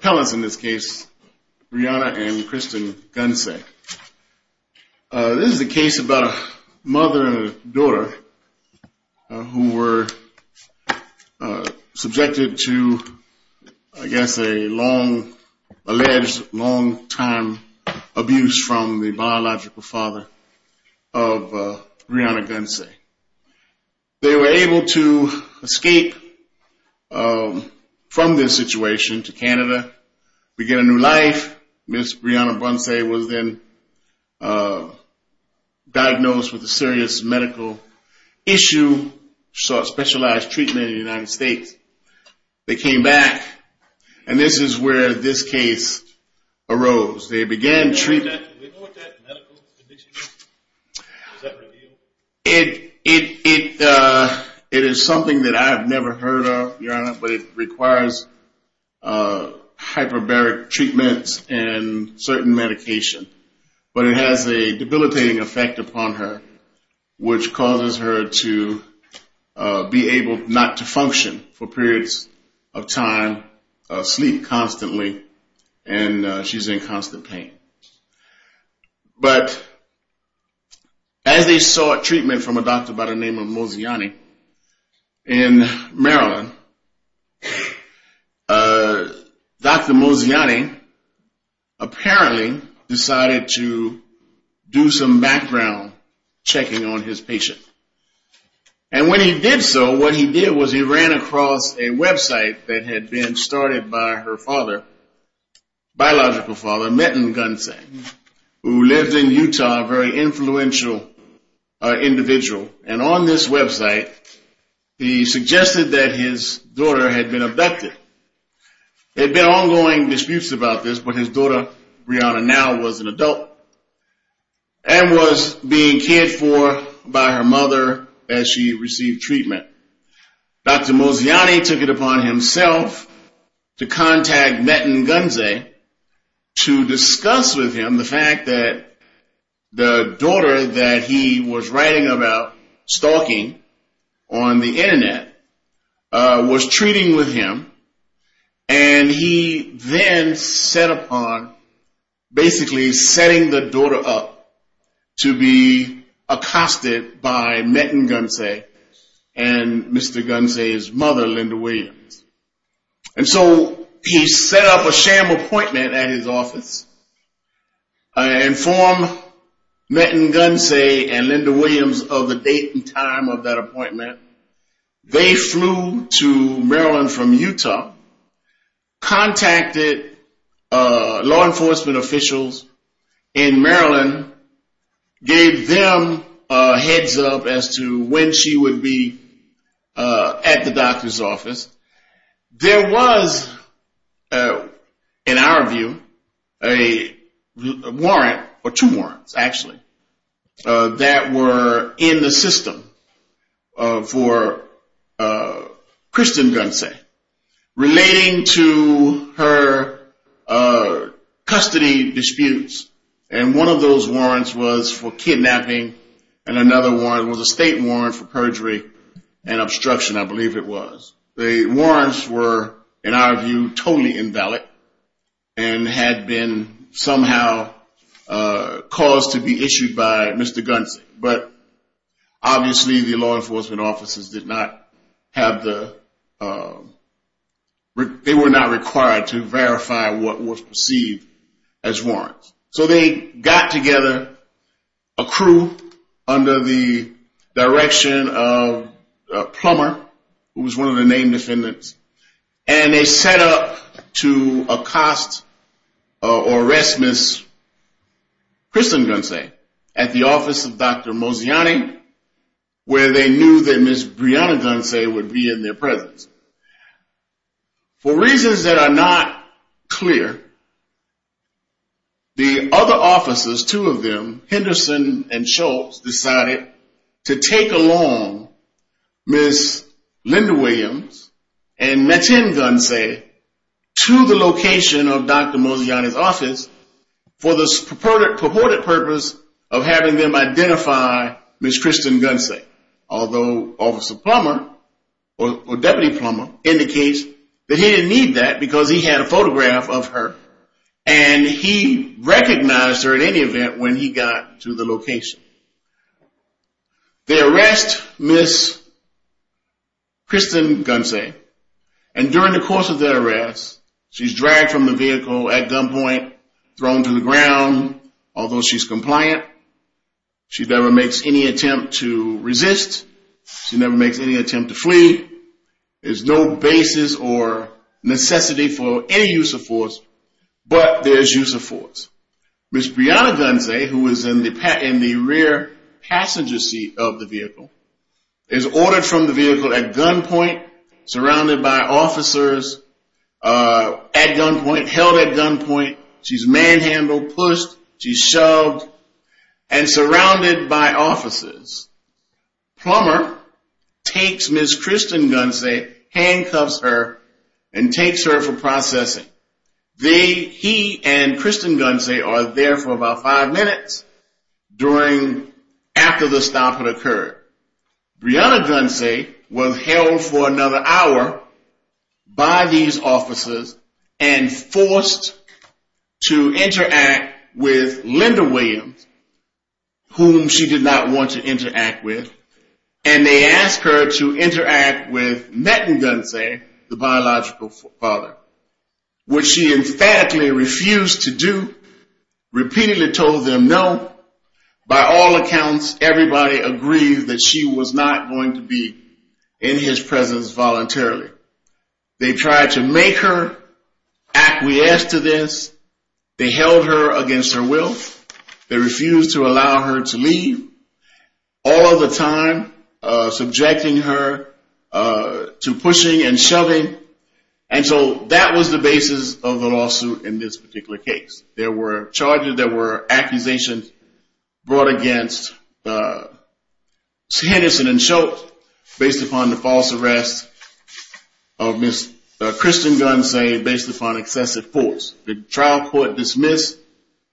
This is a case about a mother and a daughter who were subjected to, I guess, a long alleged, long time abuse from the biological father of Brieanna Gunsay. They were able to escape from this situation to Canada, begin a new life. Ms. Brieanna Gunsay was then diagnosed with a serious medical issue, specialized treatment in the United States. They came back, and this is where this case arose. They began treatment. Do we know what that medical condition is? Is that revealed? It is something that I have never heard of, Your Honor, but it requires hyperbaric treatments and certain medication. But it has a debilitating effect upon her, which causes her to be able not to function for periods of time, sleep constantly, and she's in constant pain. But as they sought treatment from a doctor by the name of Mozayeni in Maryland, Dr. Mozayeni apparently decided to do some background checking on his patient. And when he did so, what he did was he ran across a website that had been started by her biological father, Metin Gunsay, who lived in Utah, a very influential individual. And on this website, he suggested that his daughter had been abducted. There had been ongoing disputes about this, but his daughter Brieanna now was an adult and was being cared for by her mother as she received treatment. Dr. Mozayeni took it upon himself to contact Metin Gunsay to discuss with him the fact that the daughter that he was writing about stalking on the internet was treating with him. And he then set upon basically setting the daughter up to be accosted by Metin Gunsay and Mr. Gunsay's mother, Linda Williams. And so he set up a sham appointment at his office and informed Metin Gunsay and Linda Williams of the date and time of that appointment. They flew to Maryland from Utah, contacted law enforcement officials in Maryland, gave them a heads up as to when she would be at the doctor's office. There was, in our view, a warrant, or two warrants actually, that were in the system for Kristen Gunsay relating to her custody disputes. And one of those warrants was for kidnapping, and another one was a state warrant for perjury and obstruction, I believe it was. The warrants were, in our view, totally invalid and had been somehow caused to be issued by Mr. Gunsay. But obviously the law enforcement officers did not have the, they were not required to verify what was perceived as warrants. So they got together a crew under the direction of Plummer, who was one of the named defendants, and they set up to accost or arrest Ms. Kristen Gunsay at the office of Dr. Moziani, where they knew that Ms. Brianna Gunsay would be in their presence. For reasons that are not clear, the other officers, two of them, Henderson and Schultz, decided to take along Ms. Linda Williams and Metin Gunsay to the location of Dr. Moziani's office for the purported purpose of having them identify Ms. Kristen Gunsay. Although Officer Plummer, or Deputy Plummer, indicates that he didn't need that because he had a photograph of her, and he recognized her at any event when he got to the location. They arrest Ms. Kristen Gunsay, and during the course of their arrest, she's dragged from the vehicle at gunpoint, thrown to the ground, although she's compliant. She never makes any attempt to resist. She never makes any attempt to flee. There's no basis or necessity for any use of force, but there's use of force. Ms. Brianna Gunsay, who was in the rear passenger seat of the vehicle, is ordered from the vehicle at gunpoint, surrounded by officers at gunpoint, held at gunpoint. She's manhandled, pushed, she's shoved, and surrounded by officers. Plummer takes Ms. Kristen Gunsay, handcuffs her, and takes her for processing. He and Kristen Gunsay are there for about five minutes after the stop had occurred. Brianna Gunsay was held for another hour by these officers and forced to interact with Linda Williams, whom she did not want to interact with, and they asked her to interact with Metton Gunsay, the biological father, which she emphatically refused to do, repeatedly told them no. By all accounts, everybody agreed that she was not going to be in his presence voluntarily. They tried to make her acquiesce to this. They held her against her will. They refused to allow her to leave, all of the time subjecting her to pushing and shoving, and so that was the basis of the lawsuit in this particular case. There were charges, there were accusations brought against Henderson and Schultz based upon the false arrest of Ms. Kristen Gunsay based upon excessive force. The trial court dismissed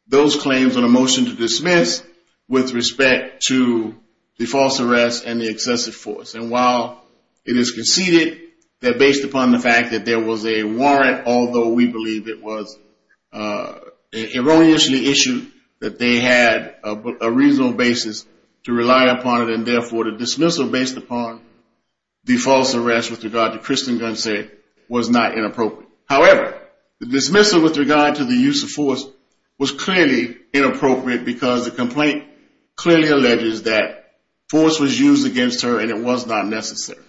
those claims on a motion to dismiss with respect to the false arrest and the excessive force. And while it is conceded that based upon the fact that there was a warrant, although we believe it was erroneously issued, that they had a reasonable basis to rely upon it, and therefore the dismissal based upon the false arrest with regard to Kristen Gunsay was not inappropriate. However, the dismissal with regard to the use of force was clearly inappropriate because the complaint clearly alleges that force was used against her and it was not necessary.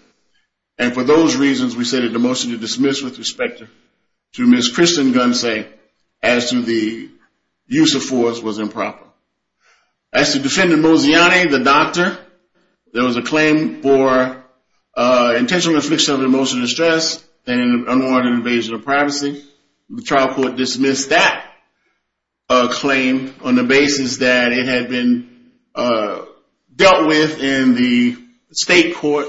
And for those reasons, we say that the motion to dismiss with respect to Ms. Kristen Gunsay as to the use of force was improper. As to defendant Moziane, the doctor, there was a claim for intentional infliction of emotional distress and unwarranted invasion of privacy. The trial court dismissed that claim on the basis that it had been dealt with in the state court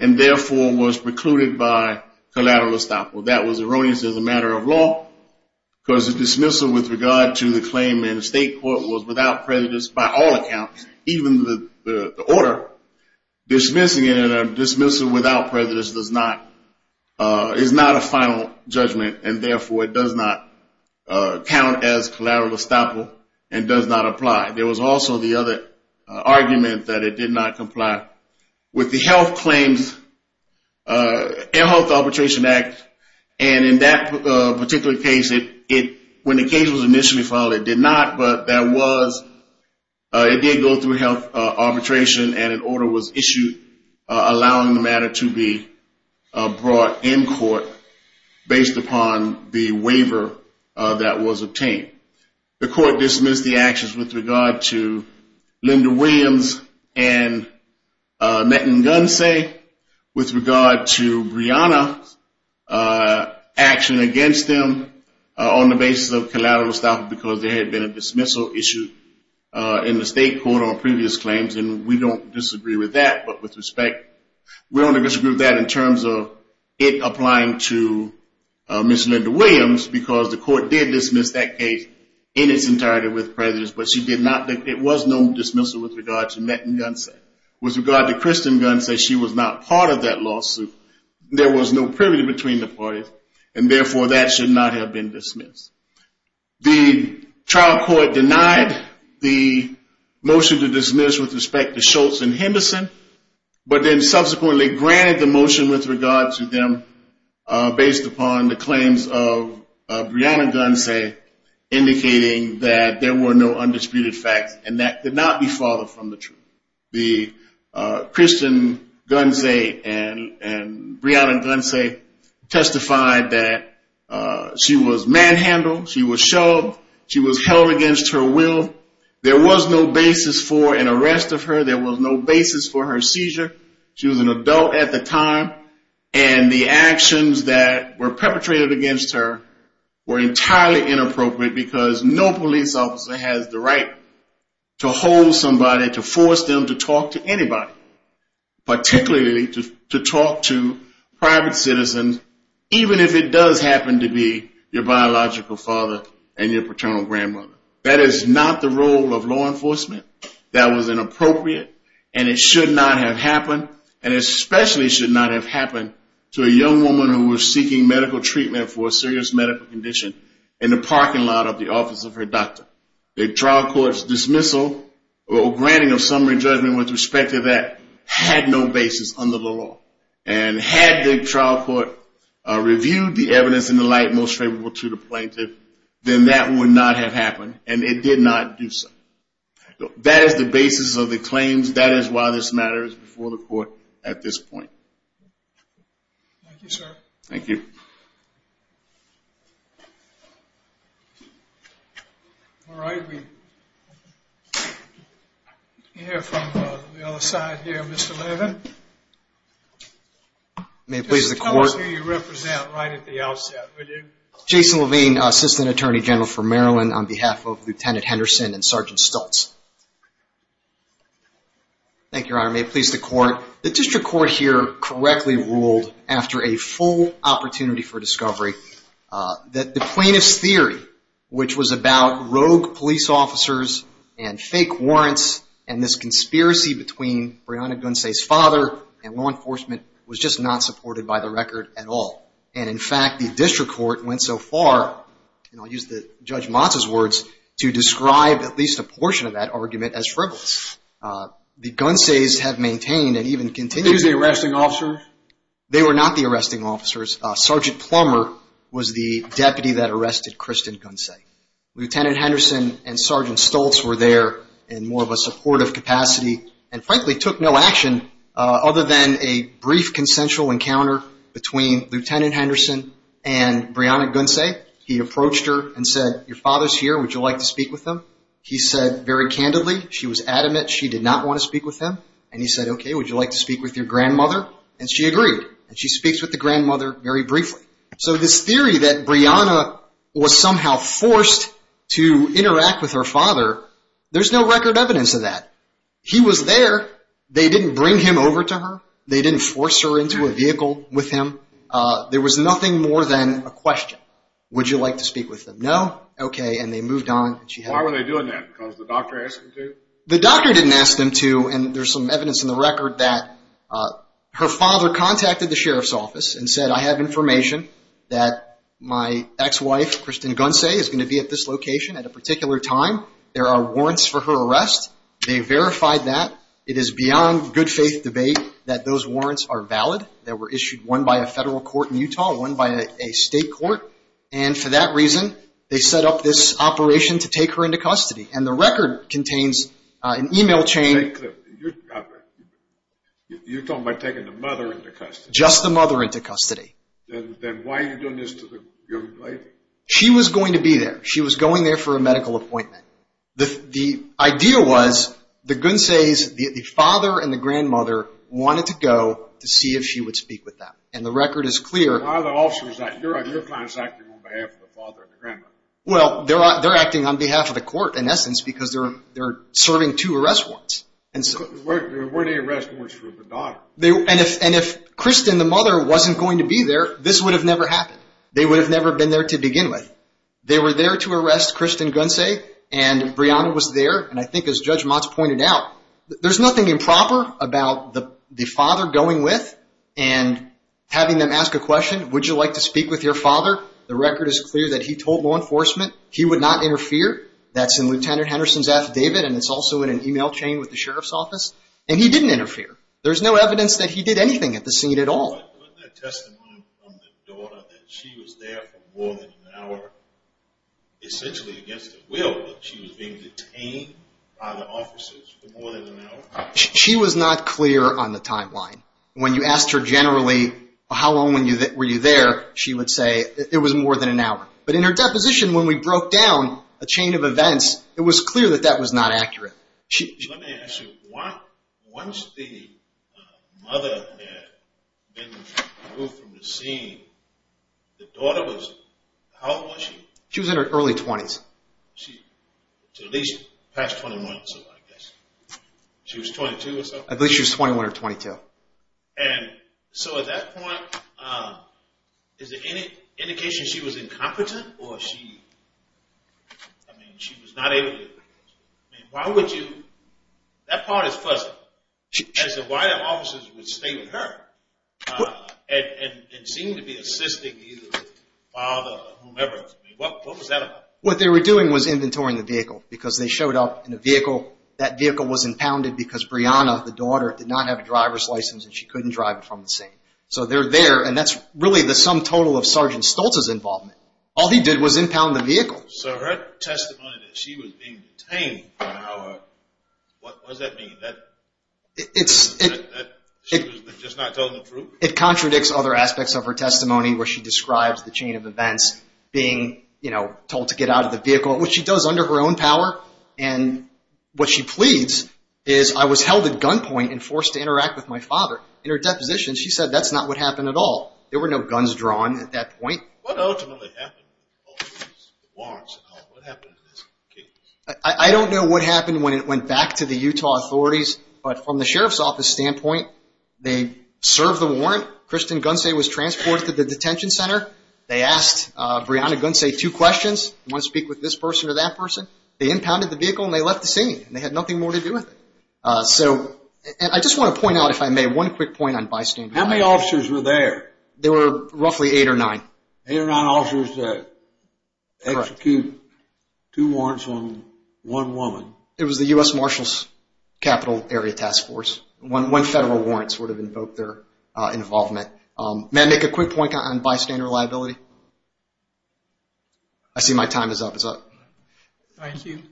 and therefore was precluded by collateral estoppel. That was erroneous as a matter of law because the dismissal with regard to the claim in the state court was without prejudice by all accounts, even the order. Dismissing it in a dismissal without prejudice is not a final judgment and therefore it does not count as collateral estoppel and does not apply. There was also the other argument that it did not comply with the health claims and health arbitration act. And in that particular case, when the case was initially filed, it did not, but it did go through health arbitration and an order was issued allowing the matter to be brought in court based upon the waiver that was obtained. The court dismissed the actions with regard to Linda Williams and Metten Gunsay with regard to Brianna's action against them on the basis of collateral estoppel because there had been a dismissal issue in the state court on previous claims and we don't disagree with that. We don't disagree with that in terms of it applying to Ms. Linda Williams because the court did dismiss that case in its entirety with prejudice, but it was no dismissal with regard to Metten Gunsay. With regard to Kristen Gunsay, she was not part of that lawsuit. There was no privilege between the parties and therefore that should not have been dismissed. The trial court denied the motion to dismiss with respect to Schultz and Henderson, but then subsequently granted the motion with regard to them based upon the claims of Brianna Gunsay indicating that there were no undisputed facts and that could not be followed from the truth. The Christian Gunsay and Brianna Gunsay testified that she was manhandled, she was shoved, she was held against her will, there was no basis for an arrest of her, there was no basis for her seizure. She was an adult at the time and the actions that were perpetrated against her were entirely inappropriate because no police officer has the right to hold somebody, to force them to talk to anybody, particularly to talk to private citizens even if it does happen to be your biological father and your paternal grandmother. That is not the role of law enforcement, that was inappropriate and it should not have happened and especially should not have happened to a young woman who was seeking medical treatment for a serious medical condition in the parking lot of the office of her doctor. The trial court's dismissal or granting of summary judgment with respect to that had no basis under the law and had the trial court reviewed the evidence in the light most favorable to the plaintiff, then that would not have happened and it did not do so. That is the basis of the claims, that is why this matter is before the court at this point. Thank you. All right, we hear from the other side here, Mr. Levin. Please tell us who you represent right at the outset, will you? Jason Levine, Assistant Attorney General for Maryland on behalf of Lieutenant Henderson and Sergeant Stultz. Thank you, Your Honor, may it please the court. The district court here correctly ruled after a full opportunity for discovery that the plaintiff's theory, which was about rogue police officers and fake warrants and this conspiracy between Breonna Gunse's father and law enforcement was just not supported by the record at all. And in fact, the district court went so far, and I'll use Judge Motz's words, to describe at least a portion of that argument as frivolous. The Gunse's have maintained and even continued... They were the arresting officers? They were not the arresting officers. Sergeant Plummer was the deputy that arrested Kristen Gunse. Lieutenant Henderson and Sergeant Stultz were there in more of a supportive capacity and frankly took no action other than a brief consensual encounter between Lieutenant Henderson and Breonna Gunse. He approached her and said, your father's here, would you like to speak with him? He said very candidly, she was adamant she did not want to speak with him. And he said, okay, would you like to speak with your grandmother? And she agreed. And she speaks with the grandmother very briefly. So this theory that Breonna was somehow forced to interact with her father, there's no record evidence of that. He was there. They didn't bring him over to her. They didn't force her into a vehicle with him. There was nothing more than a question. Would you like to speak with him? No? Okay. And they moved on. Why were they doing that? Because the doctor asked them to? The doctor didn't ask them to. And there's some evidence in the record that her father contacted the sheriff's office and said, I have information that my ex-wife, Kristen Gunse, is going to be at this location at a particular time. There are warrants for her arrest. They verified that. It is beyond good faith debate that those warrants are valid. They were issued, one by a federal court in Utah, one by a state court. And for that reason, they set up this operation to take her into custody. And the record contains an e-mail chain. You're talking about taking the mother into custody. Just the mother into custody. Then why are you doing this to the young lady? She was going to be there. She was going there for a medical appointment. The idea was the Gunse's, the father and the grandmother, wanted to go to see if she would speak with them. And the record is clear. Why are the officers acting on behalf of the father and the grandmother? Well, they're acting on behalf of the court, in essence, because they're serving two arrest warrants. There weren't any arrest warrants for the daughter. And if Kristen, the mother, wasn't going to be there, this would have never happened. They would have never been there to begin with. They were there to arrest Kristen Gunse, and Breonna was there. And I think, as Judge Motz pointed out, there's nothing improper about the father going with and having them ask a question. Would you like to speak with your father? The record is clear that he told law enforcement he would not interfere. That's in Lieutenant Henderson's affidavit, and it's also in an e-mail chain with the sheriff's office. And he didn't interfere. There's no evidence that he did anything at the scene at all. Wasn't there testimony from the daughter that she was there for more than an hour, essentially against her will, that she was being detained by the officers for more than an hour? She was not clear on the timeline. When you asked her generally, how long were you there, she would say it was more than an hour. But in her deposition, when we broke down a chain of events, it was clear that that was not accurate. Let me ask you, once the mother had been removed from the scene, the daughter was, how old was she? She was in her early 20s. At least past 21, I guess. She was 22 or something? At least she was 21 or 22. And so at that point, is there any indication she was incompetent or she, I mean, she was not able to do it? I mean, why would you, that part is fuzzy, as to why the officers would stay with her and seem to be assisting either the father or whomever. I mean, what was that about? What they were doing was inventorying the vehicle because they showed up in a vehicle. That vehicle was impounded because Brianna, the daughter, did not have a driver's license and she couldn't drive it from the scene. So they're there, and that's really the sum total of Sergeant Stoltz's involvement. All he did was impound the vehicle. So her testimony that she was being detained for an hour, what does that mean? That she was just not telling the truth? It contradicts other aspects of her testimony where she describes the chain of events, being told to get out of the vehicle, which she does under her own power. And what she pleads is, I was held at gunpoint and forced to interact with my father. In her deposition, she said that's not what happened at all. There were no guns drawn at that point. What ultimately happened with all these warrants and all? What happened in this case? I don't know what happened when it went back to the Utah authorities, but from the sheriff's office standpoint, they served the warrant. Kristen Gunsey was transported to the detention center. They asked Brianna Gunsey two questions, do you want to speak with this person or that person? They impounded the vehicle and they left the scene. They had nothing more to do with it. I just want to point out, if I may, one quick point on bystander liability. How many officers were there? There were roughly eight or nine. Eight or nine officers to execute two warrants on one woman. It was the U.S. Marshals Capital Area Task Force. One federal warrant sort of invoked their involvement. May I make a quick point on bystander liability? I see my time is up. Thank you.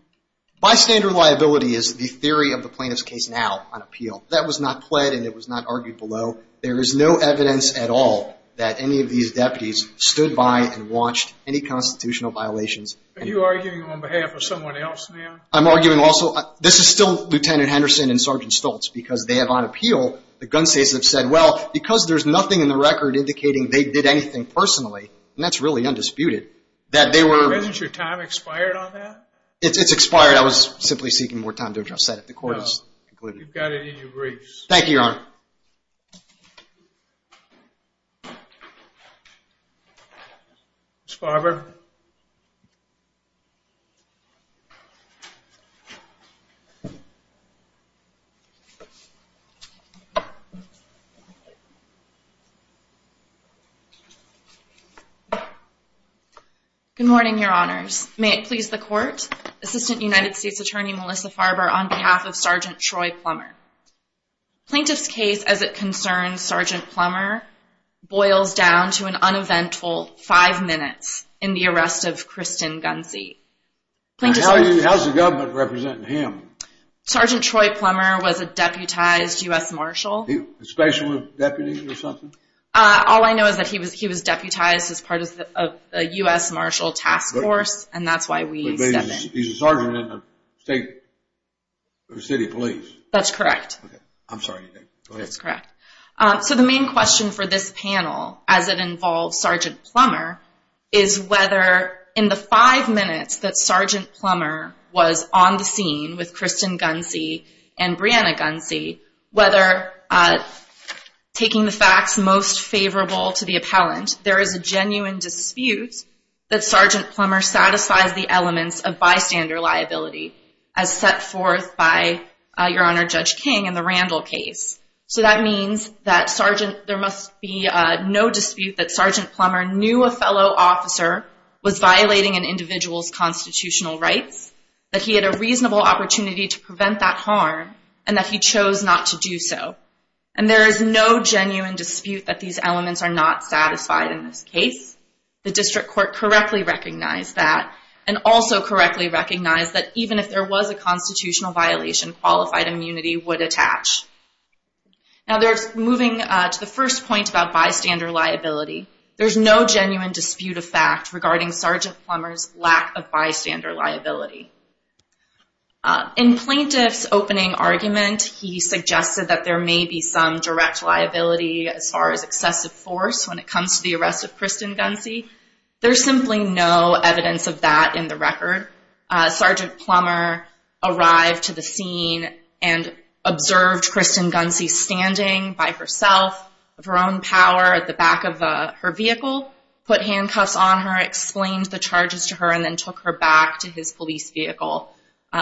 Bystander liability is the theory of the plaintiff's case now on appeal. That was not pled and it was not argued below. There is no evidence at all that any of these deputies stood by and watched any constitutional violations. Are you arguing on behalf of someone else now? I'm arguing also, this is still Lieutenant Henderson and Sergeant Stoltz, because they have on appeal, the Gunseys have said, well, because there's nothing in the record indicating they did anything personally, and that's really undisputed, that they were. Hasn't your time expired on that? It's expired. I was simply seeking more time to address that if the court has concluded. You've got it in your briefs. Thank you, Your Honor. Ms. Farber. Good morning, Your Honors. May it please the court, Assistant United States Attorney Melissa Farber on behalf of Sergeant Troy Plummer. Plaintiff's case, as it concerns Sergeant Plummer, boils down to an uneventful five minutes in the arrest of Kristen Gunsey. How's the government representing him? Sergeant Troy Plummer was a deputized U.S. Marshal. A special deputy or something? All I know is that he was deputized as part of the U.S. Marshal Task Force, and that's why we step in. He's a sergeant in the state or city police. That's correct. I'm sorry. Go ahead. That's correct. So the main question for this panel, as it involves Sergeant Plummer, is whether in the five minutes that Sergeant Plummer was on the scene with Kristen Gunsey and Brianna Gunsey, whether taking the facts most favorable to the appellant, there is a genuine dispute that Sergeant Plummer satisfies the elements of bystander liability as set forth by Your Honor Judge King in the Randall case. So that means that there must be no dispute that Sergeant Plummer knew a fellow officer was violating an individual's constitutional rights, that he had a reasonable opportunity to prevent that harm, and that he chose not to do so. And there is no genuine dispute that these elements are not satisfied in this case. The district court correctly recognized that and also correctly recognized that even if there was a constitutional violation, qualified immunity would attach. Now moving to the first point about bystander liability, there's no genuine dispute of fact regarding Sergeant Plummer's lack of bystander liability. In plaintiff's opening argument, he suggested that there may be some direct liability as far as excessive force when it comes to the arrest of Kristen Gunsey. There's simply no evidence of that in the record. Sergeant Plummer arrived to the scene and observed Kristen Gunsey standing by herself of her own power at the back of her vehicle, put handcuffs on her, explained the charges to her, and then took her back to his police vehicle.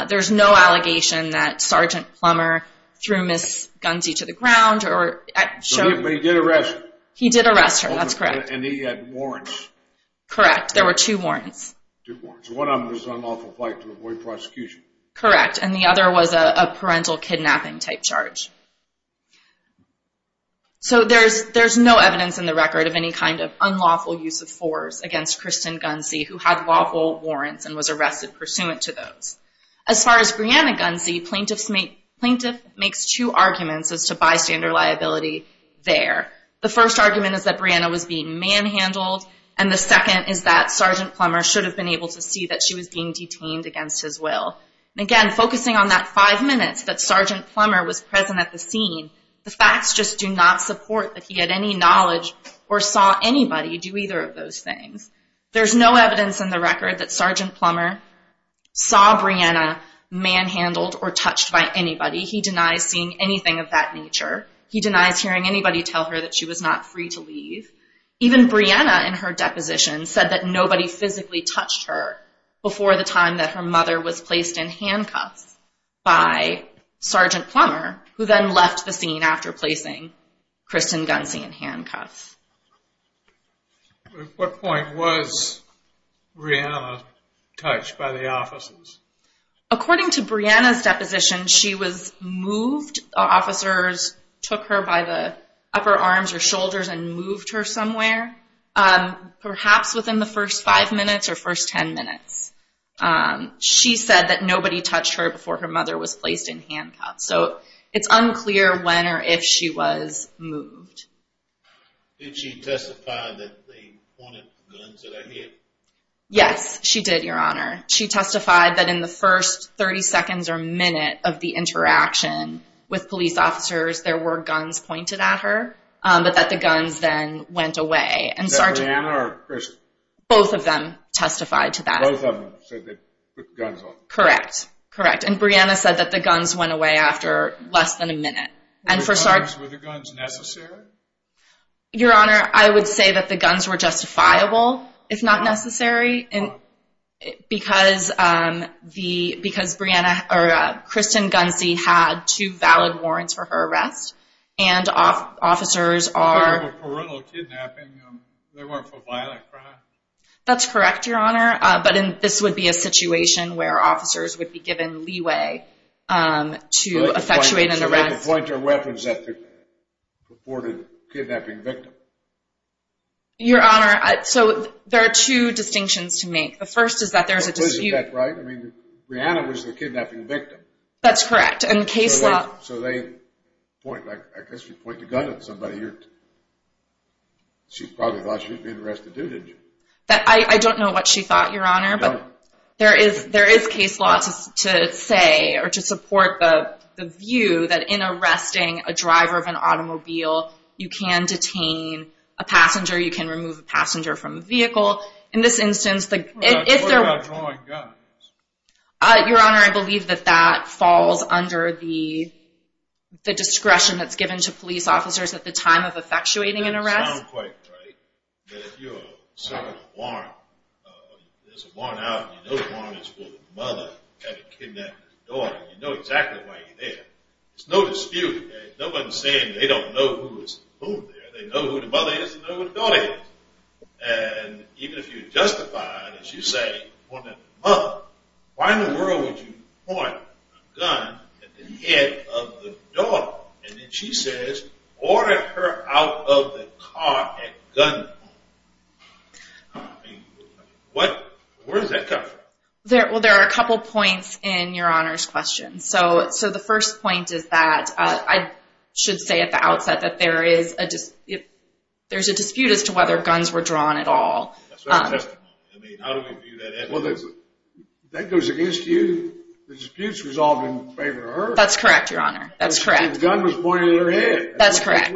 There's no allegation that Sergeant Plummer threw Miss Gunsey to the ground. But he did arrest her. He did arrest her. That's correct. And he had warrants. Correct. There were two warrants. Two warrants. One of them was unlawful flight to avoid prosecution. Correct. And the other was a parental kidnapping type charge. So there's no evidence in the record of any kind of unlawful use of force against Kristen Gunsey who had lawful warrants and was arrested pursuant to those. As far as Brianna Gunsey, plaintiff makes two arguments as to bystander liability there. The first argument is that Brianna was being manhandled, and the second is that Sergeant Plummer should have been able to see that she was being detained against his will. Again, focusing on that five minutes that Sergeant Plummer was present at the scene, the facts just do not support that he had any knowledge or saw anybody do either of those things. There's no evidence in the record that Sergeant Plummer saw Brianna manhandled or touched by anybody. He denies seeing anything of that nature. He denies hearing anybody tell her that she was not free to leave. Even Brianna in her deposition said that nobody physically touched her before the time that her mother was placed in handcuffs by Sergeant Plummer, who then left the scene after placing Kristen Gunsey in handcuffs. At what point was Brianna touched by the officers? According to Brianna's deposition, she was moved. Officers took her by the upper arms or shoulders and moved her somewhere, perhaps within the first five minutes or first ten minutes. She said that nobody touched her before her mother was placed in handcuffs. So it's unclear when or if she was moved. Did she testify that they pointed guns at her? Yes, she did, Your Honor. She testified that in the first 30 seconds or minute of the interaction with police officers, there were guns pointed at her, but that the guns then went away. Was that Brianna or Kristen? Both of them testified to that. Both of them said they put guns on her. Correct, correct. And Brianna said that the guns went away after less than a minute. Were the guns necessary? Your Honor, I would say that the guns were justifiable, if not necessary. Why? Because Brianna or Kristen Gunsey had two valid warrants for her arrest, and officers are – They weren't for parental kidnapping. They weren't for violent crime. That's correct, Your Honor, but this would be a situation where officers would be given leeway to point their weapons at the purported kidnapping victim. Your Honor, so there are two distinctions to make. The first is that there's a dispute. I mean, Brianna was the kidnapping victim. That's correct, and case law – So they point – I guess she pointed a gun at somebody. She probably thought she was being arrested, too, didn't she? I don't know what she thought, Your Honor, but there is case law to say or to support the view that in arresting a driver of an automobile, you can detain a passenger, you can remove a passenger from a vehicle. In this instance, if there were – What about drawing guns? Your Honor, I believe that that falls under the discretion that's given to police officers at the time of effectuating an arrest. But if you're serving a warrant, there's a warrant out, and you know the warrant is for the mother of the kidnapped daughter. You know exactly why you're there. There's no dispute. Nobody's saying they don't know who is whom there. They know who the mother is. They know who the daughter is. And even if you justify it, as you say, pointing at the mother, why in the world would you point a gun at the head of the daughter? And then she says, order her out of the car and gun her. I mean, where does that come from? Well, there are a couple points in Your Honor's question. So the first point is that I should say at the outset that there is a – there's a dispute as to whether guns were drawn at all. That's what I'm testing you on. I mean, how do we view that? Well, that goes against you. The disputes resolved in favor of her. That's correct, Your Honor. That's correct. The gun was pointed at her head. That's correct.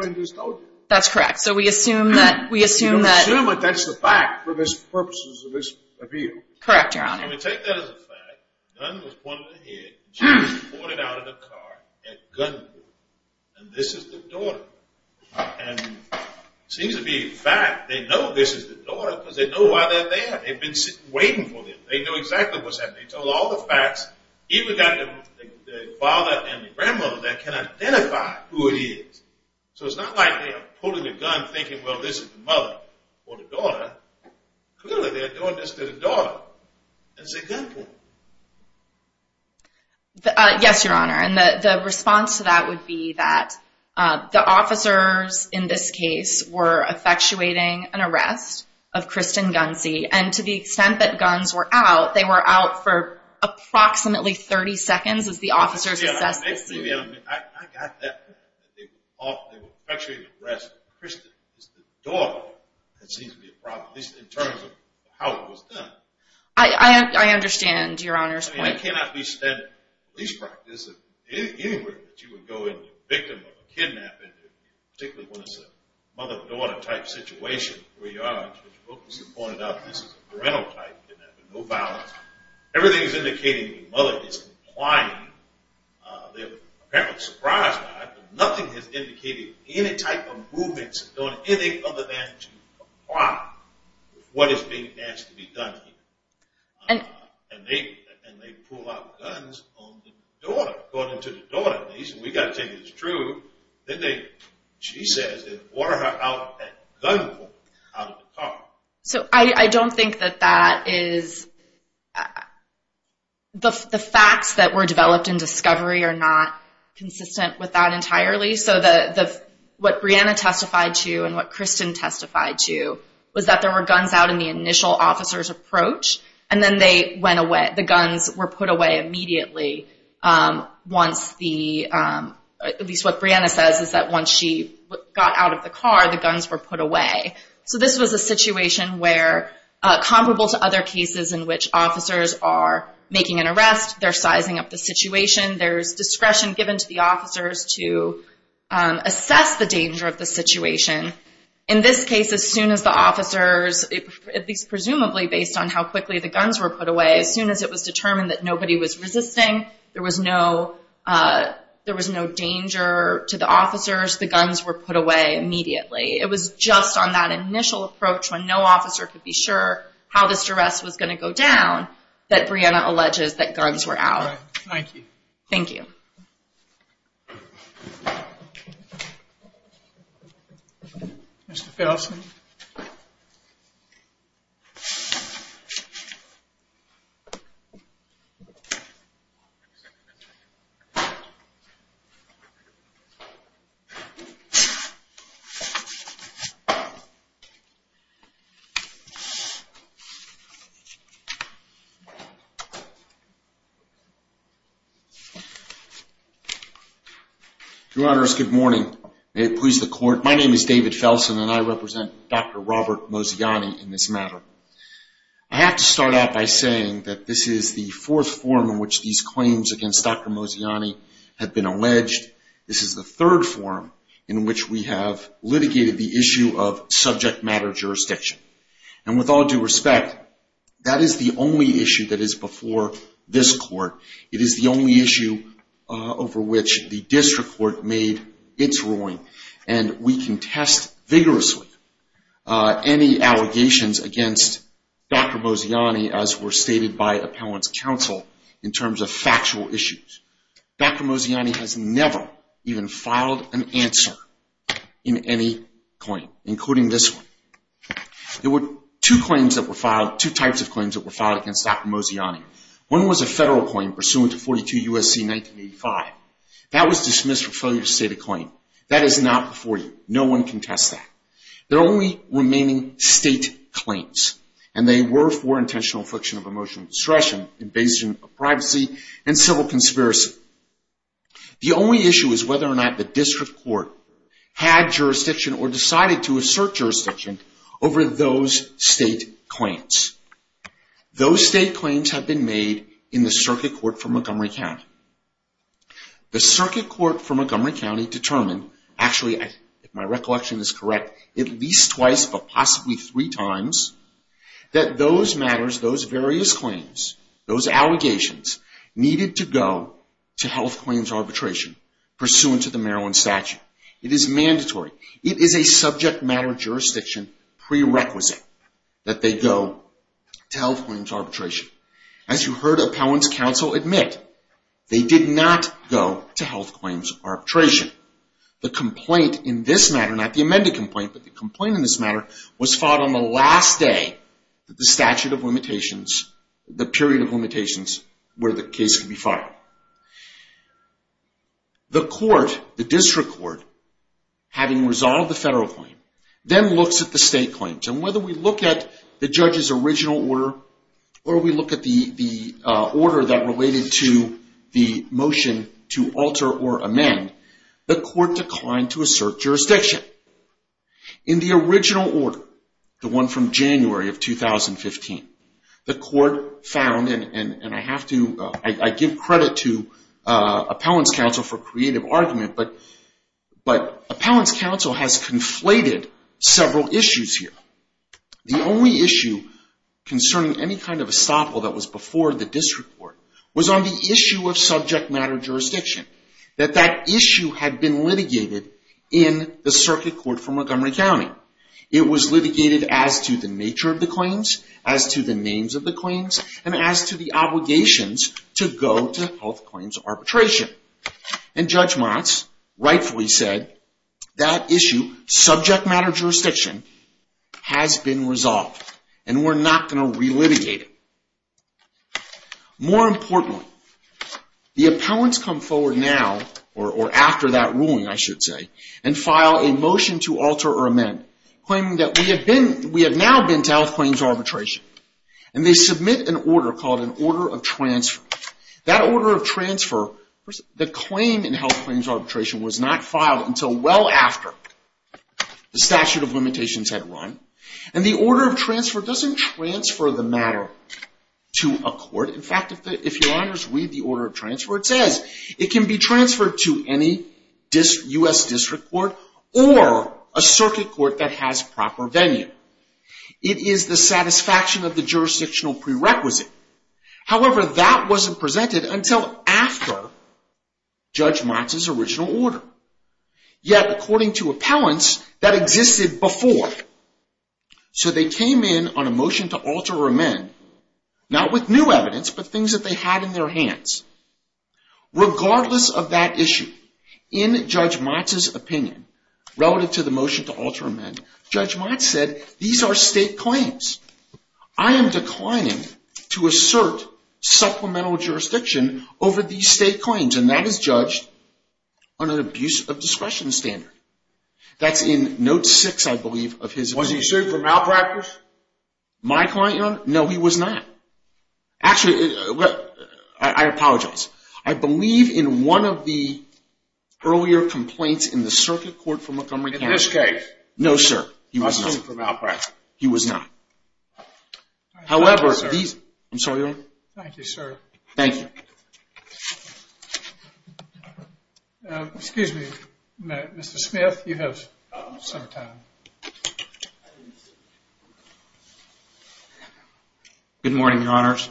That's correct. So we assume that – We assume that that's the fact for the purposes of this appeal. Correct, Your Honor. Let me take that as a fact. The gun was pointed at her head. She was ordered out of the car and gunned her. And this is the daughter. And it seems to be a fact. They know this is the daughter because they know why they're there. They've been waiting for them. They know exactly what's happening. They told all the facts. Even got the father and the grandmother that can identify who it is. So it's not like they're pulling a gun thinking, well, this is the mother or the daughter. Clearly, they're doing this to the daughter. It's a gun point. Yes, Your Honor. And the response to that would be that the officers in this case were effectuating an arrest of Kristen Gunze. And to the extent that guns were out, they were out for approximately 30 seconds, as the officers assessed the scene. I got that. They were effectuating an arrest of Kristen. It's the daughter that seems to be a problem, at least in terms of how it was done. I understand, Your Honor's point. I mean, it cannot be said that police practice anywhere that you would go and the victim of a kidnapping, particularly when it's a mother-daughter type situation, where you are, as Mr. Wilkinson pointed out, this is a parental type and there's no violence. Everything is indicating the mother is complying. Apparently surprised by it, but nothing has indicated any type of movements or doing anything other than to comply with what is being asked to be done here. And they pull out guns on the daughter, according to the daughter, at least. And we've got to tell you it's true. Then they, she says, they water her out at gunpoint out of the car. So I don't think that that is the facts that were developed in discovery are not consistent with that entirely. So what Brianna testified to and what Kristen testified to was that there were guns out in the initial officer's approach, and then they went away. And the guns were put away immediately once the, at least what Brianna says, is that once she got out of the car, the guns were put away. So this was a situation where, comparable to other cases in which officers are making an arrest, they're sizing up the situation, there's discretion given to the officers to assess the danger of the situation. In this case, as soon as the officers, at least presumably based on how quickly the guns were put away, as soon as it was determined that nobody was resisting, there was no danger to the officers, the guns were put away immediately. It was just on that initial approach when no officer could be sure how this arrest was going to go down that Brianna alleges that guns were out. Thank you. Thank you. Thank you. Mr. Felsen. Your Honors, good morning. May it please the Court. My name is David Felsen, and I represent Dr. Robert Moziani in this matter. I have to start out by saying that this is the fourth form in which these claims against Dr. Moziani have been alleged. This is the third form in which we have litigated the issue of subject matter jurisdiction. And with all due respect, that is the only issue that is before this Court. It is the only issue over which the district court made its ruling. And we can test vigorously any allegations against Dr. Moziani, as were stated by appellant's counsel, in terms of factual issues. Dr. Moziani has never even filed an answer in any claim, including this one. There were two claims that were filed, two types of claims that were filed against Dr. Moziani. One was a federal claim pursuant to 42 U.S.C. 1985. That was dismissed for failure to state a claim. That is not before you. No one can test that. They're only remaining state claims, and they were for intentional affliction of emotional distraction, invasion of privacy, and civil conspiracy. The only issue is whether or not the district court had jurisdiction or decided to assert jurisdiction over those state claims. Those state claims have been made in the circuit court for Montgomery County. The circuit court for Montgomery County determined, actually, if my recollection is correct, at least twice, but possibly three times, that those matters, those various claims, those allegations, needed to go to health claims arbitration, pursuant to the Maryland statute. It is mandatory. It is a subject matter jurisdiction prerequisite that they go to health claims arbitration. As you heard appellants counsel admit, they did not go to health claims arbitration. The complaint in this matter, not the amended complaint, but the complaint in this matter, was filed on the last day of the statute of limitations, the period of limitations, where the case could be filed. The court, the district court, having resolved the federal claim, then looks at the state claims, and whether we look at the judge's original order or we look at the order that related to the motion to alter or amend, the court declined to assert jurisdiction. In the original order, the one from January of 2015, the court found, and I give credit to appellants counsel for creative argument, but appellants counsel has conflated several issues here. The only issue concerning any kind of estoppel that was before the district court was on the issue of subject matter jurisdiction, that that issue had been litigated in the circuit court for Montgomery County. It was litigated as to the nature of the claims, as to the names of the claims, and as to the obligations to go to health claims arbitration. And Judge Motz rightfully said, that issue, subject matter jurisdiction, has been resolved, and we're not going to relitigate it. More importantly, the appellants come forward now, or after that ruling I should say, and file a motion to alter or amend, claiming that we have now been to health claims arbitration. And they submit an order called an order of transfer. That order of transfer, the claim in health claims arbitration, was not filed until well after the statute of limitations had run. And the order of transfer doesn't transfer the matter to a court. It can be transferred to any U.S. district court or a circuit court that has proper venue. It is the satisfaction of the jurisdictional prerequisite. However, that wasn't presented until after Judge Motz's original order. Yet, according to appellants, that existed before. So they came in on a motion to alter or amend, not with new evidence, but things that they had in their hands. Regardless of that issue, in Judge Motz's opinion, relative to the motion to alter or amend, Judge Motz said, these are state claims. I am declining to assert supplemental jurisdiction over these state claims. And that is judged on an abuse of discretion standard. That's in note six, I believe, of his claim. Was he sued for malpractice? My client, Your Honor? No, he was not. Actually, I apologize. I believe in one of the earlier complaints in the circuit court for Montgomery County. In this case? No, sir. He was not sued for malpractice. He was not. However, these... I'm sorry, Your Honor. Thank you, sir. Thank you. Excuse me, Mr. Smith. You have some time. Good morning, Your Honors.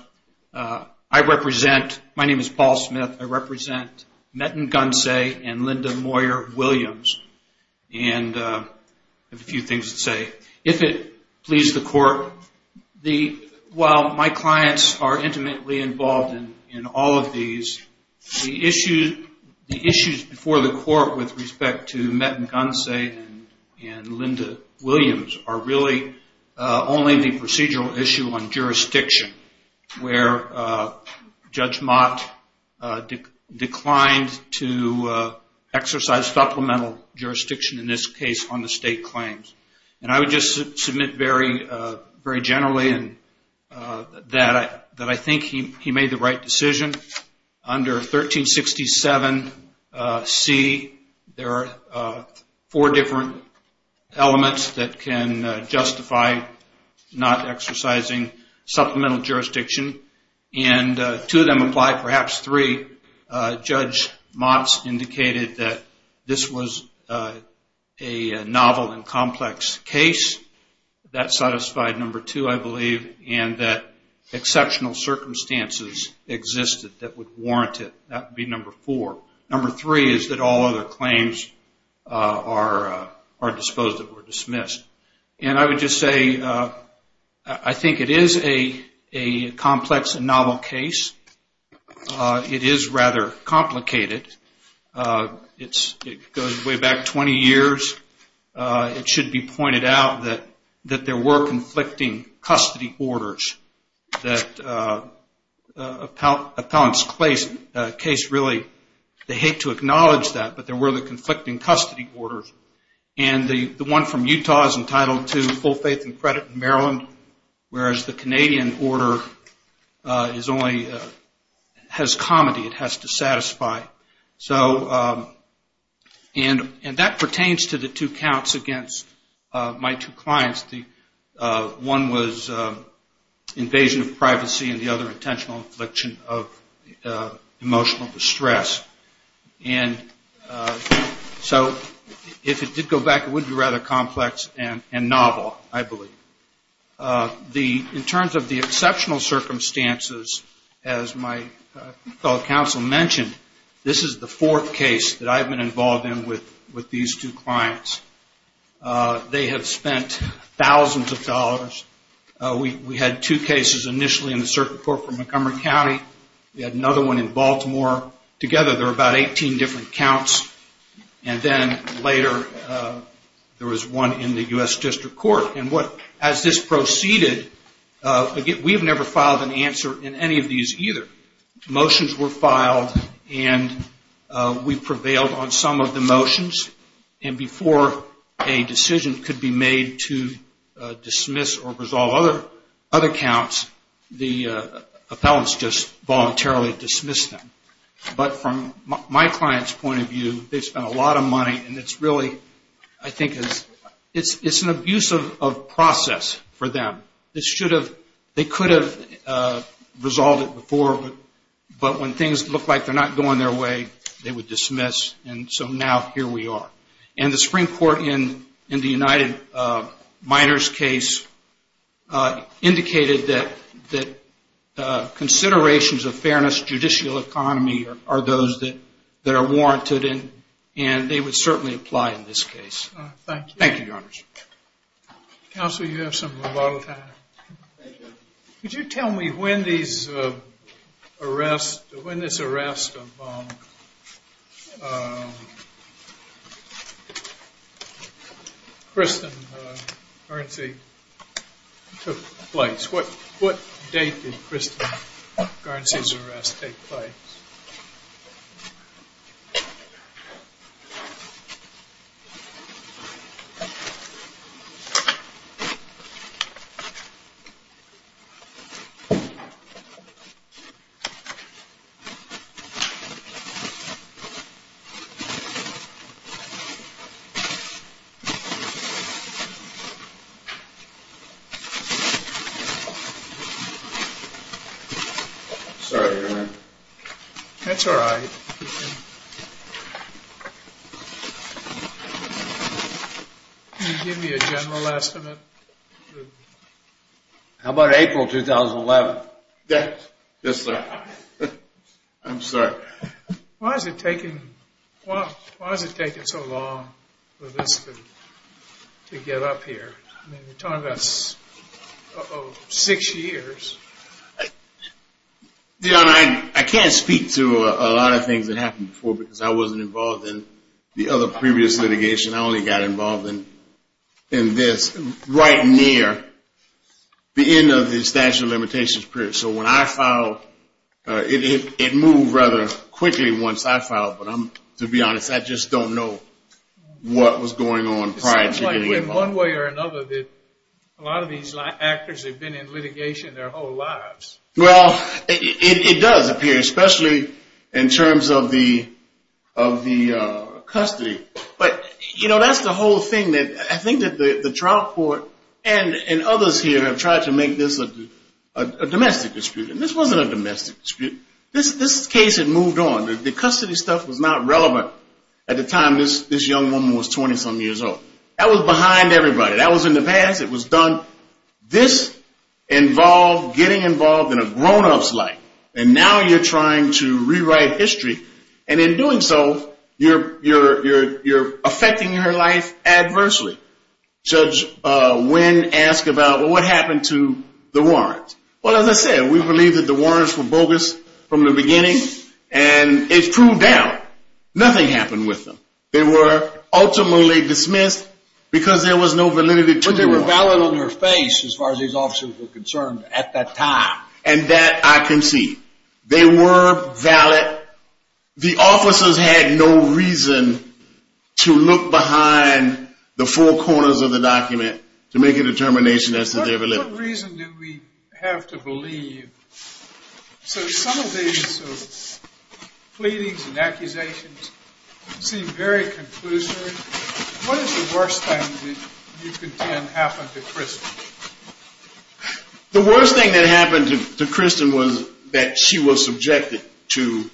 I represent... My name is Paul Smith. I represent Metten-Gunsay and Linda Moyer Williams. And I have a few things to say. If it pleases the court, while my clients are intimately involved in all of these, the issues before the court with respect to Metten-Gunsay and Linda Williams are really only the procedural issue on jurisdiction where Judge Mott declined to exercise supplemental jurisdiction, in this case, on the state claims. And I would just submit very generally that I think he made the right decision. Under 1367C, there are four different elements that can justify not exercising supplemental jurisdiction. And two of them apply, perhaps three. Judge Mott indicated that this was a novel and complex case. That satisfied number two, I believe. And that exceptional circumstances existed that would warrant it. That would be number four. Number three is that all other claims are disposed of or dismissed. And I would just say I think it is a complex and novel case. It is rather complicated. It goes way back 20 years. It should be pointed out that there were conflicting custody orders. That appellant's case, really, they hate to acknowledge that, but there were the conflicting custody orders. And the one from Utah is entitled to full faith and credit in Maryland, whereas the Canadian order has comedy. It has to satisfy. And that pertains to the two counts against my two clients. One was invasion of privacy, and the other intentional infliction of emotional distress. And so if it did go back, it would be rather complex and novel, I believe. In terms of the exceptional circumstances, as my fellow counsel mentioned, this is the fourth case that I've been involved in with these two clients. They have spent thousands of dollars. We had two cases initially in the circuit court for Montgomery County. We had another one in Baltimore. Together, there were about 18 different counts. And then later, there was one in the U.S. District Court. And as this proceeded, we have never filed an answer in any of these either. Motions were filed, and we prevailed on some of the motions. And before a decision could be made to dismiss or resolve other counts, the appellants just voluntarily dismissed them. But from my client's point of view, they've spent a lot of money, and it's really, I think it's an abusive process for them. They could have resolved it before, but when things look like they're not going their way, they would dismiss. And so now, here we are. And the Supreme Court, in the United Minors case, indicated that considerations of fairness, judicial economy, are those that are warranted, and they would certainly apply in this case. Thank you. Thank you, Your Honors. Counsel, you have some volatile time. Could you tell me when this arrest of Kristen Guernsey took place? What date did Kristen Guernsey's arrest take place? Sorry, Your Honor. That's all right. Thank you. Can you give me a general estimate? How about April 2011? Yes, sir. I'm sorry. Why has it taken so long for this to get up here? I mean, you're talking about six years. Your Honor, I can't speak to a lot of things that happened before, because I wasn't involved in the other previous litigation. I only got involved in this right near the end of the statute of limitations period. So when I filed, it moved rather quickly once I filed. But to be honest, I just don't know what was going on prior to getting involved. It seems to me in one way or another that a lot of these actors have been in litigation their whole lives. Well, it does appear, especially in terms of the custody. But, you know, that's the whole thing. I think that the trial court and others here have tried to make this a domestic dispute, and this wasn't a domestic dispute. This case had moved on. The custody stuff was not relevant at the time this young woman was 20-some years old. That was behind everybody. That was in the past. It was done. This involved getting involved in a grown-up's life, and now you're trying to rewrite history. And in doing so, you're affecting her life adversely. Judge Wynn asked about what happened to the warrants. Well, as I said, we believe that the warrants were bogus from the beginning, and it's proved out. Nothing happened with them. They were ultimately dismissed because there was no validity to the warrant. But they were valid on their face as far as these officers were concerned at that time. And that I can see. They were valid. The officers had no reason to look behind the four corners of the document to make a determination as to their validity. What reason do we have to believe? So some of these pleadings and accusations seem very conclusive. What is the worst thing that you contend happened to Kristen? The worst thing that happened to Kristen was that she was subjected to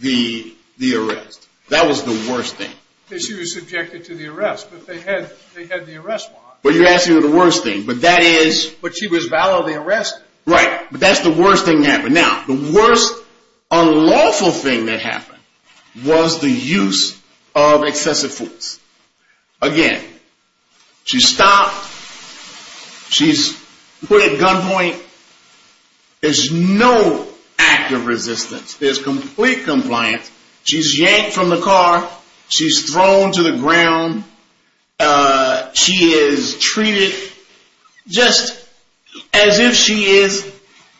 the arrest. That was the worst thing. She was subjected to the arrest, but they had the arrest warrant. Well, you're asking the worst thing. But she was validly arrested. Right, but that's the worst thing that happened. Now, the worst unlawful thing that happened was the use of excessive force. Again, she's stopped. She's put at gunpoint. There's no act of resistance. There's complete compliance. She's yanked from the car. She's thrown to the ground. She is treated just as if she is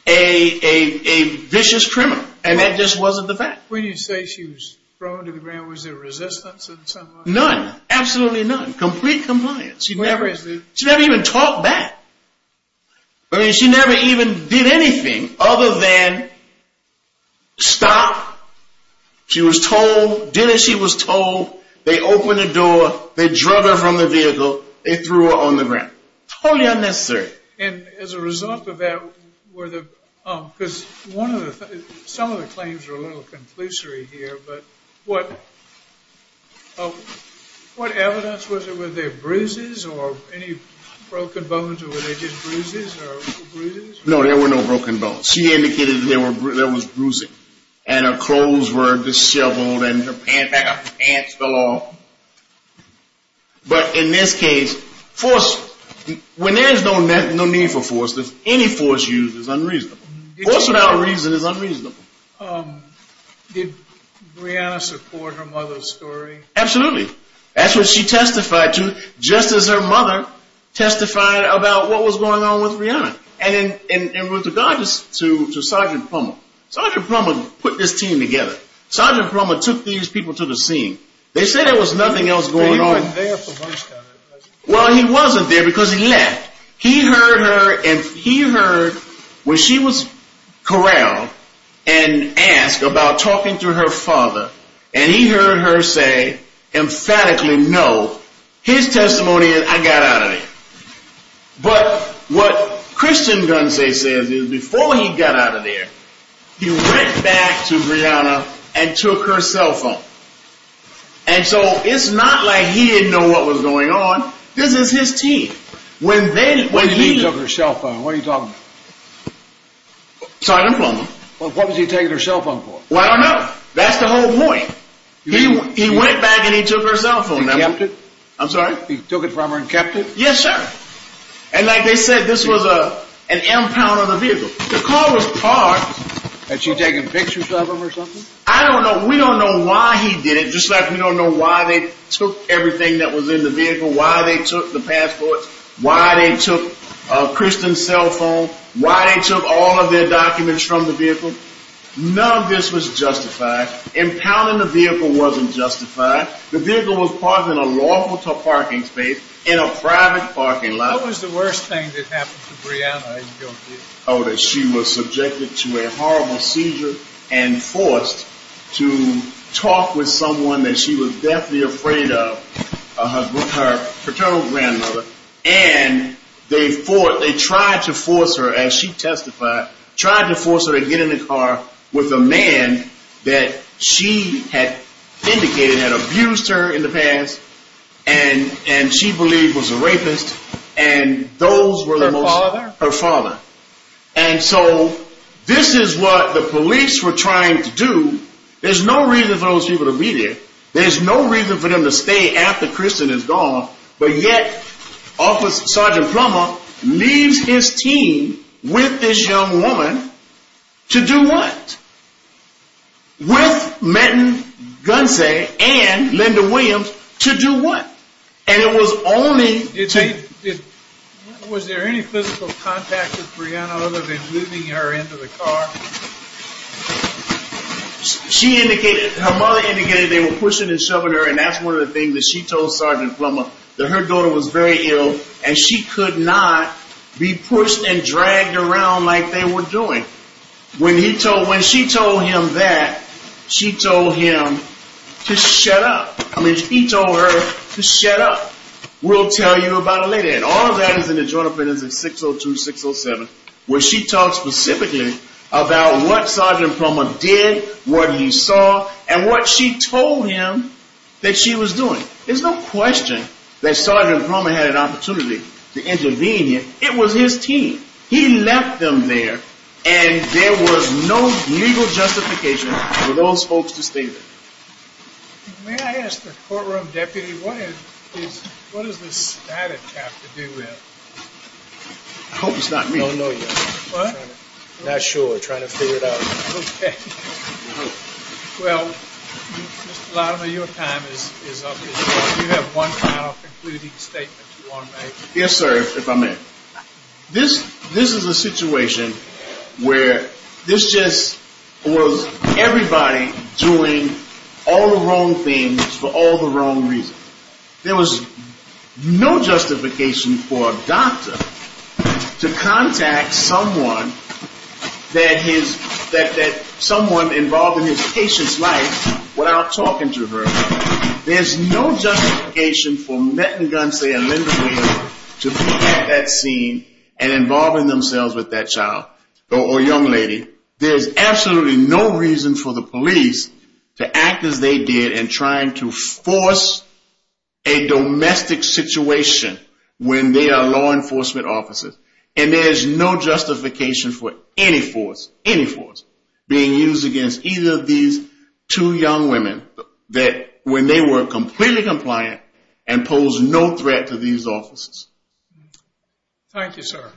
a vicious criminal, and that just wasn't the fact. When you say she was thrown to the ground, was there resistance in some way? None. Absolutely none. Complete compliance. She never even talked back. I mean, she never even did anything other than stop. She was told, did as she was told. They opened the door. They drug her from the vehicle. They threw her on the ground. Totally unnecessary. And as a result of that, were the—because one of the—some of the claims are a little conclusive here, but what evidence was there? Were there bruises or any broken bones, or were they just bruises or bruises? No, there were no broken bones. She indicated that there was bruising, and her clothes were disheveled, and her pants fell off. But in this case, force—when there is no need for force, any force used is unreasonable. Force without reason is unreasonable. Did Breonna support her mother's story? Absolutely. That's what she testified to, just as her mother testified about what was going on with Breonna. And in regards to Sergeant Plummer, Sergeant Plummer put this team together. Sergeant Plummer took these people to the scene. They said there was nothing else going on. He wasn't there for Hunchtown. Well, he wasn't there because he left. He heard her, and he heard when she was corralled and asked about talking to her father, and he heard her say emphatically, no. His testimony is, I got out of there. But what Christian Gunsey says is before he got out of there, he went back to Breonna and took her cell phone. And so it's not like he didn't know what was going on. This is his team. When he took her cell phone, what are you talking about? Sergeant Plummer. What was he taking her cell phone for? I don't know. That's the whole point. He went back and he took her cell phone. He kept it? I'm sorry? He took it from her and kept it? Yes, sir. And like they said, this was an impound on the vehicle. The car was parked. Had she taken pictures of him or something? I don't know. We don't know why he did it. Just like we don't know why they took everything that was in the vehicle, why they took the passports, why they took Christian's cell phone, why they took all of their documents from the vehicle. None of this was justified. Impounding the vehicle wasn't justified. The vehicle was parked in a lawful parking space in a private parking lot. What was the worst thing that happened to Brianna? Oh, that she was subjected to a horrible seizure and forced to talk with someone that she was deathly afraid of, her paternal grandmother. And they tried to force her, as she testified, tried to force her to get in the car with a man that she had indicated had abused her in the past and she believed was a rapist. And those were the most... Her father? Her father. And so this is what the police were trying to do. There's no reason for those people to be there. There's no reason for them to stay after Christian is gone. But yet Sergeant Plummer leaves his team with this young woman to do what? With Menton Gunsey and Linda Williams to do what? And it was only... Was there any physical contact with Brianna other than moving her into the car? She indicated, her mother indicated they were pushing and shoving her and that's one of the things that she told Sergeant Plummer, that her daughter was very ill and she could not be pushed and dragged around like they were doing. When she told him that, she told him to shut up. I mean, he told her to shut up. We'll tell you about it later. And all of that is in the joint opinions of 602-607 where she talks specifically about what Sergeant Plummer did, what he saw, and what she told him that she was doing. There's no question that Sergeant Plummer had an opportunity to intervene here. It was his team. He left them there and there was no legal justification for those folks to stay there. May I ask the courtroom deputy, what does this static have to do with? I hope it's not me. I don't know yet. What? Not sure. Trying to figure it out. Okay. Well, Mr. Latimer, your time is up. Do you have one final concluding statement you want to make? Yes, sir, if I may. This is a situation where this just was everybody doing all the wrong things for all the wrong reasons. There was no justification for a doctor to contact someone that someone involved in his patient's life without talking to her. There's no justification for Merton Gunsey and Linda Williams to be at that scene and involving themselves with that child or young lady. There's absolutely no reason for the police to act as they did in trying to force a domestic situation when they are law enforcement officers. And there's no justification for any force being used against either of these two young women when they were completely compliant and posed no threat to these officers. Thank you, sir.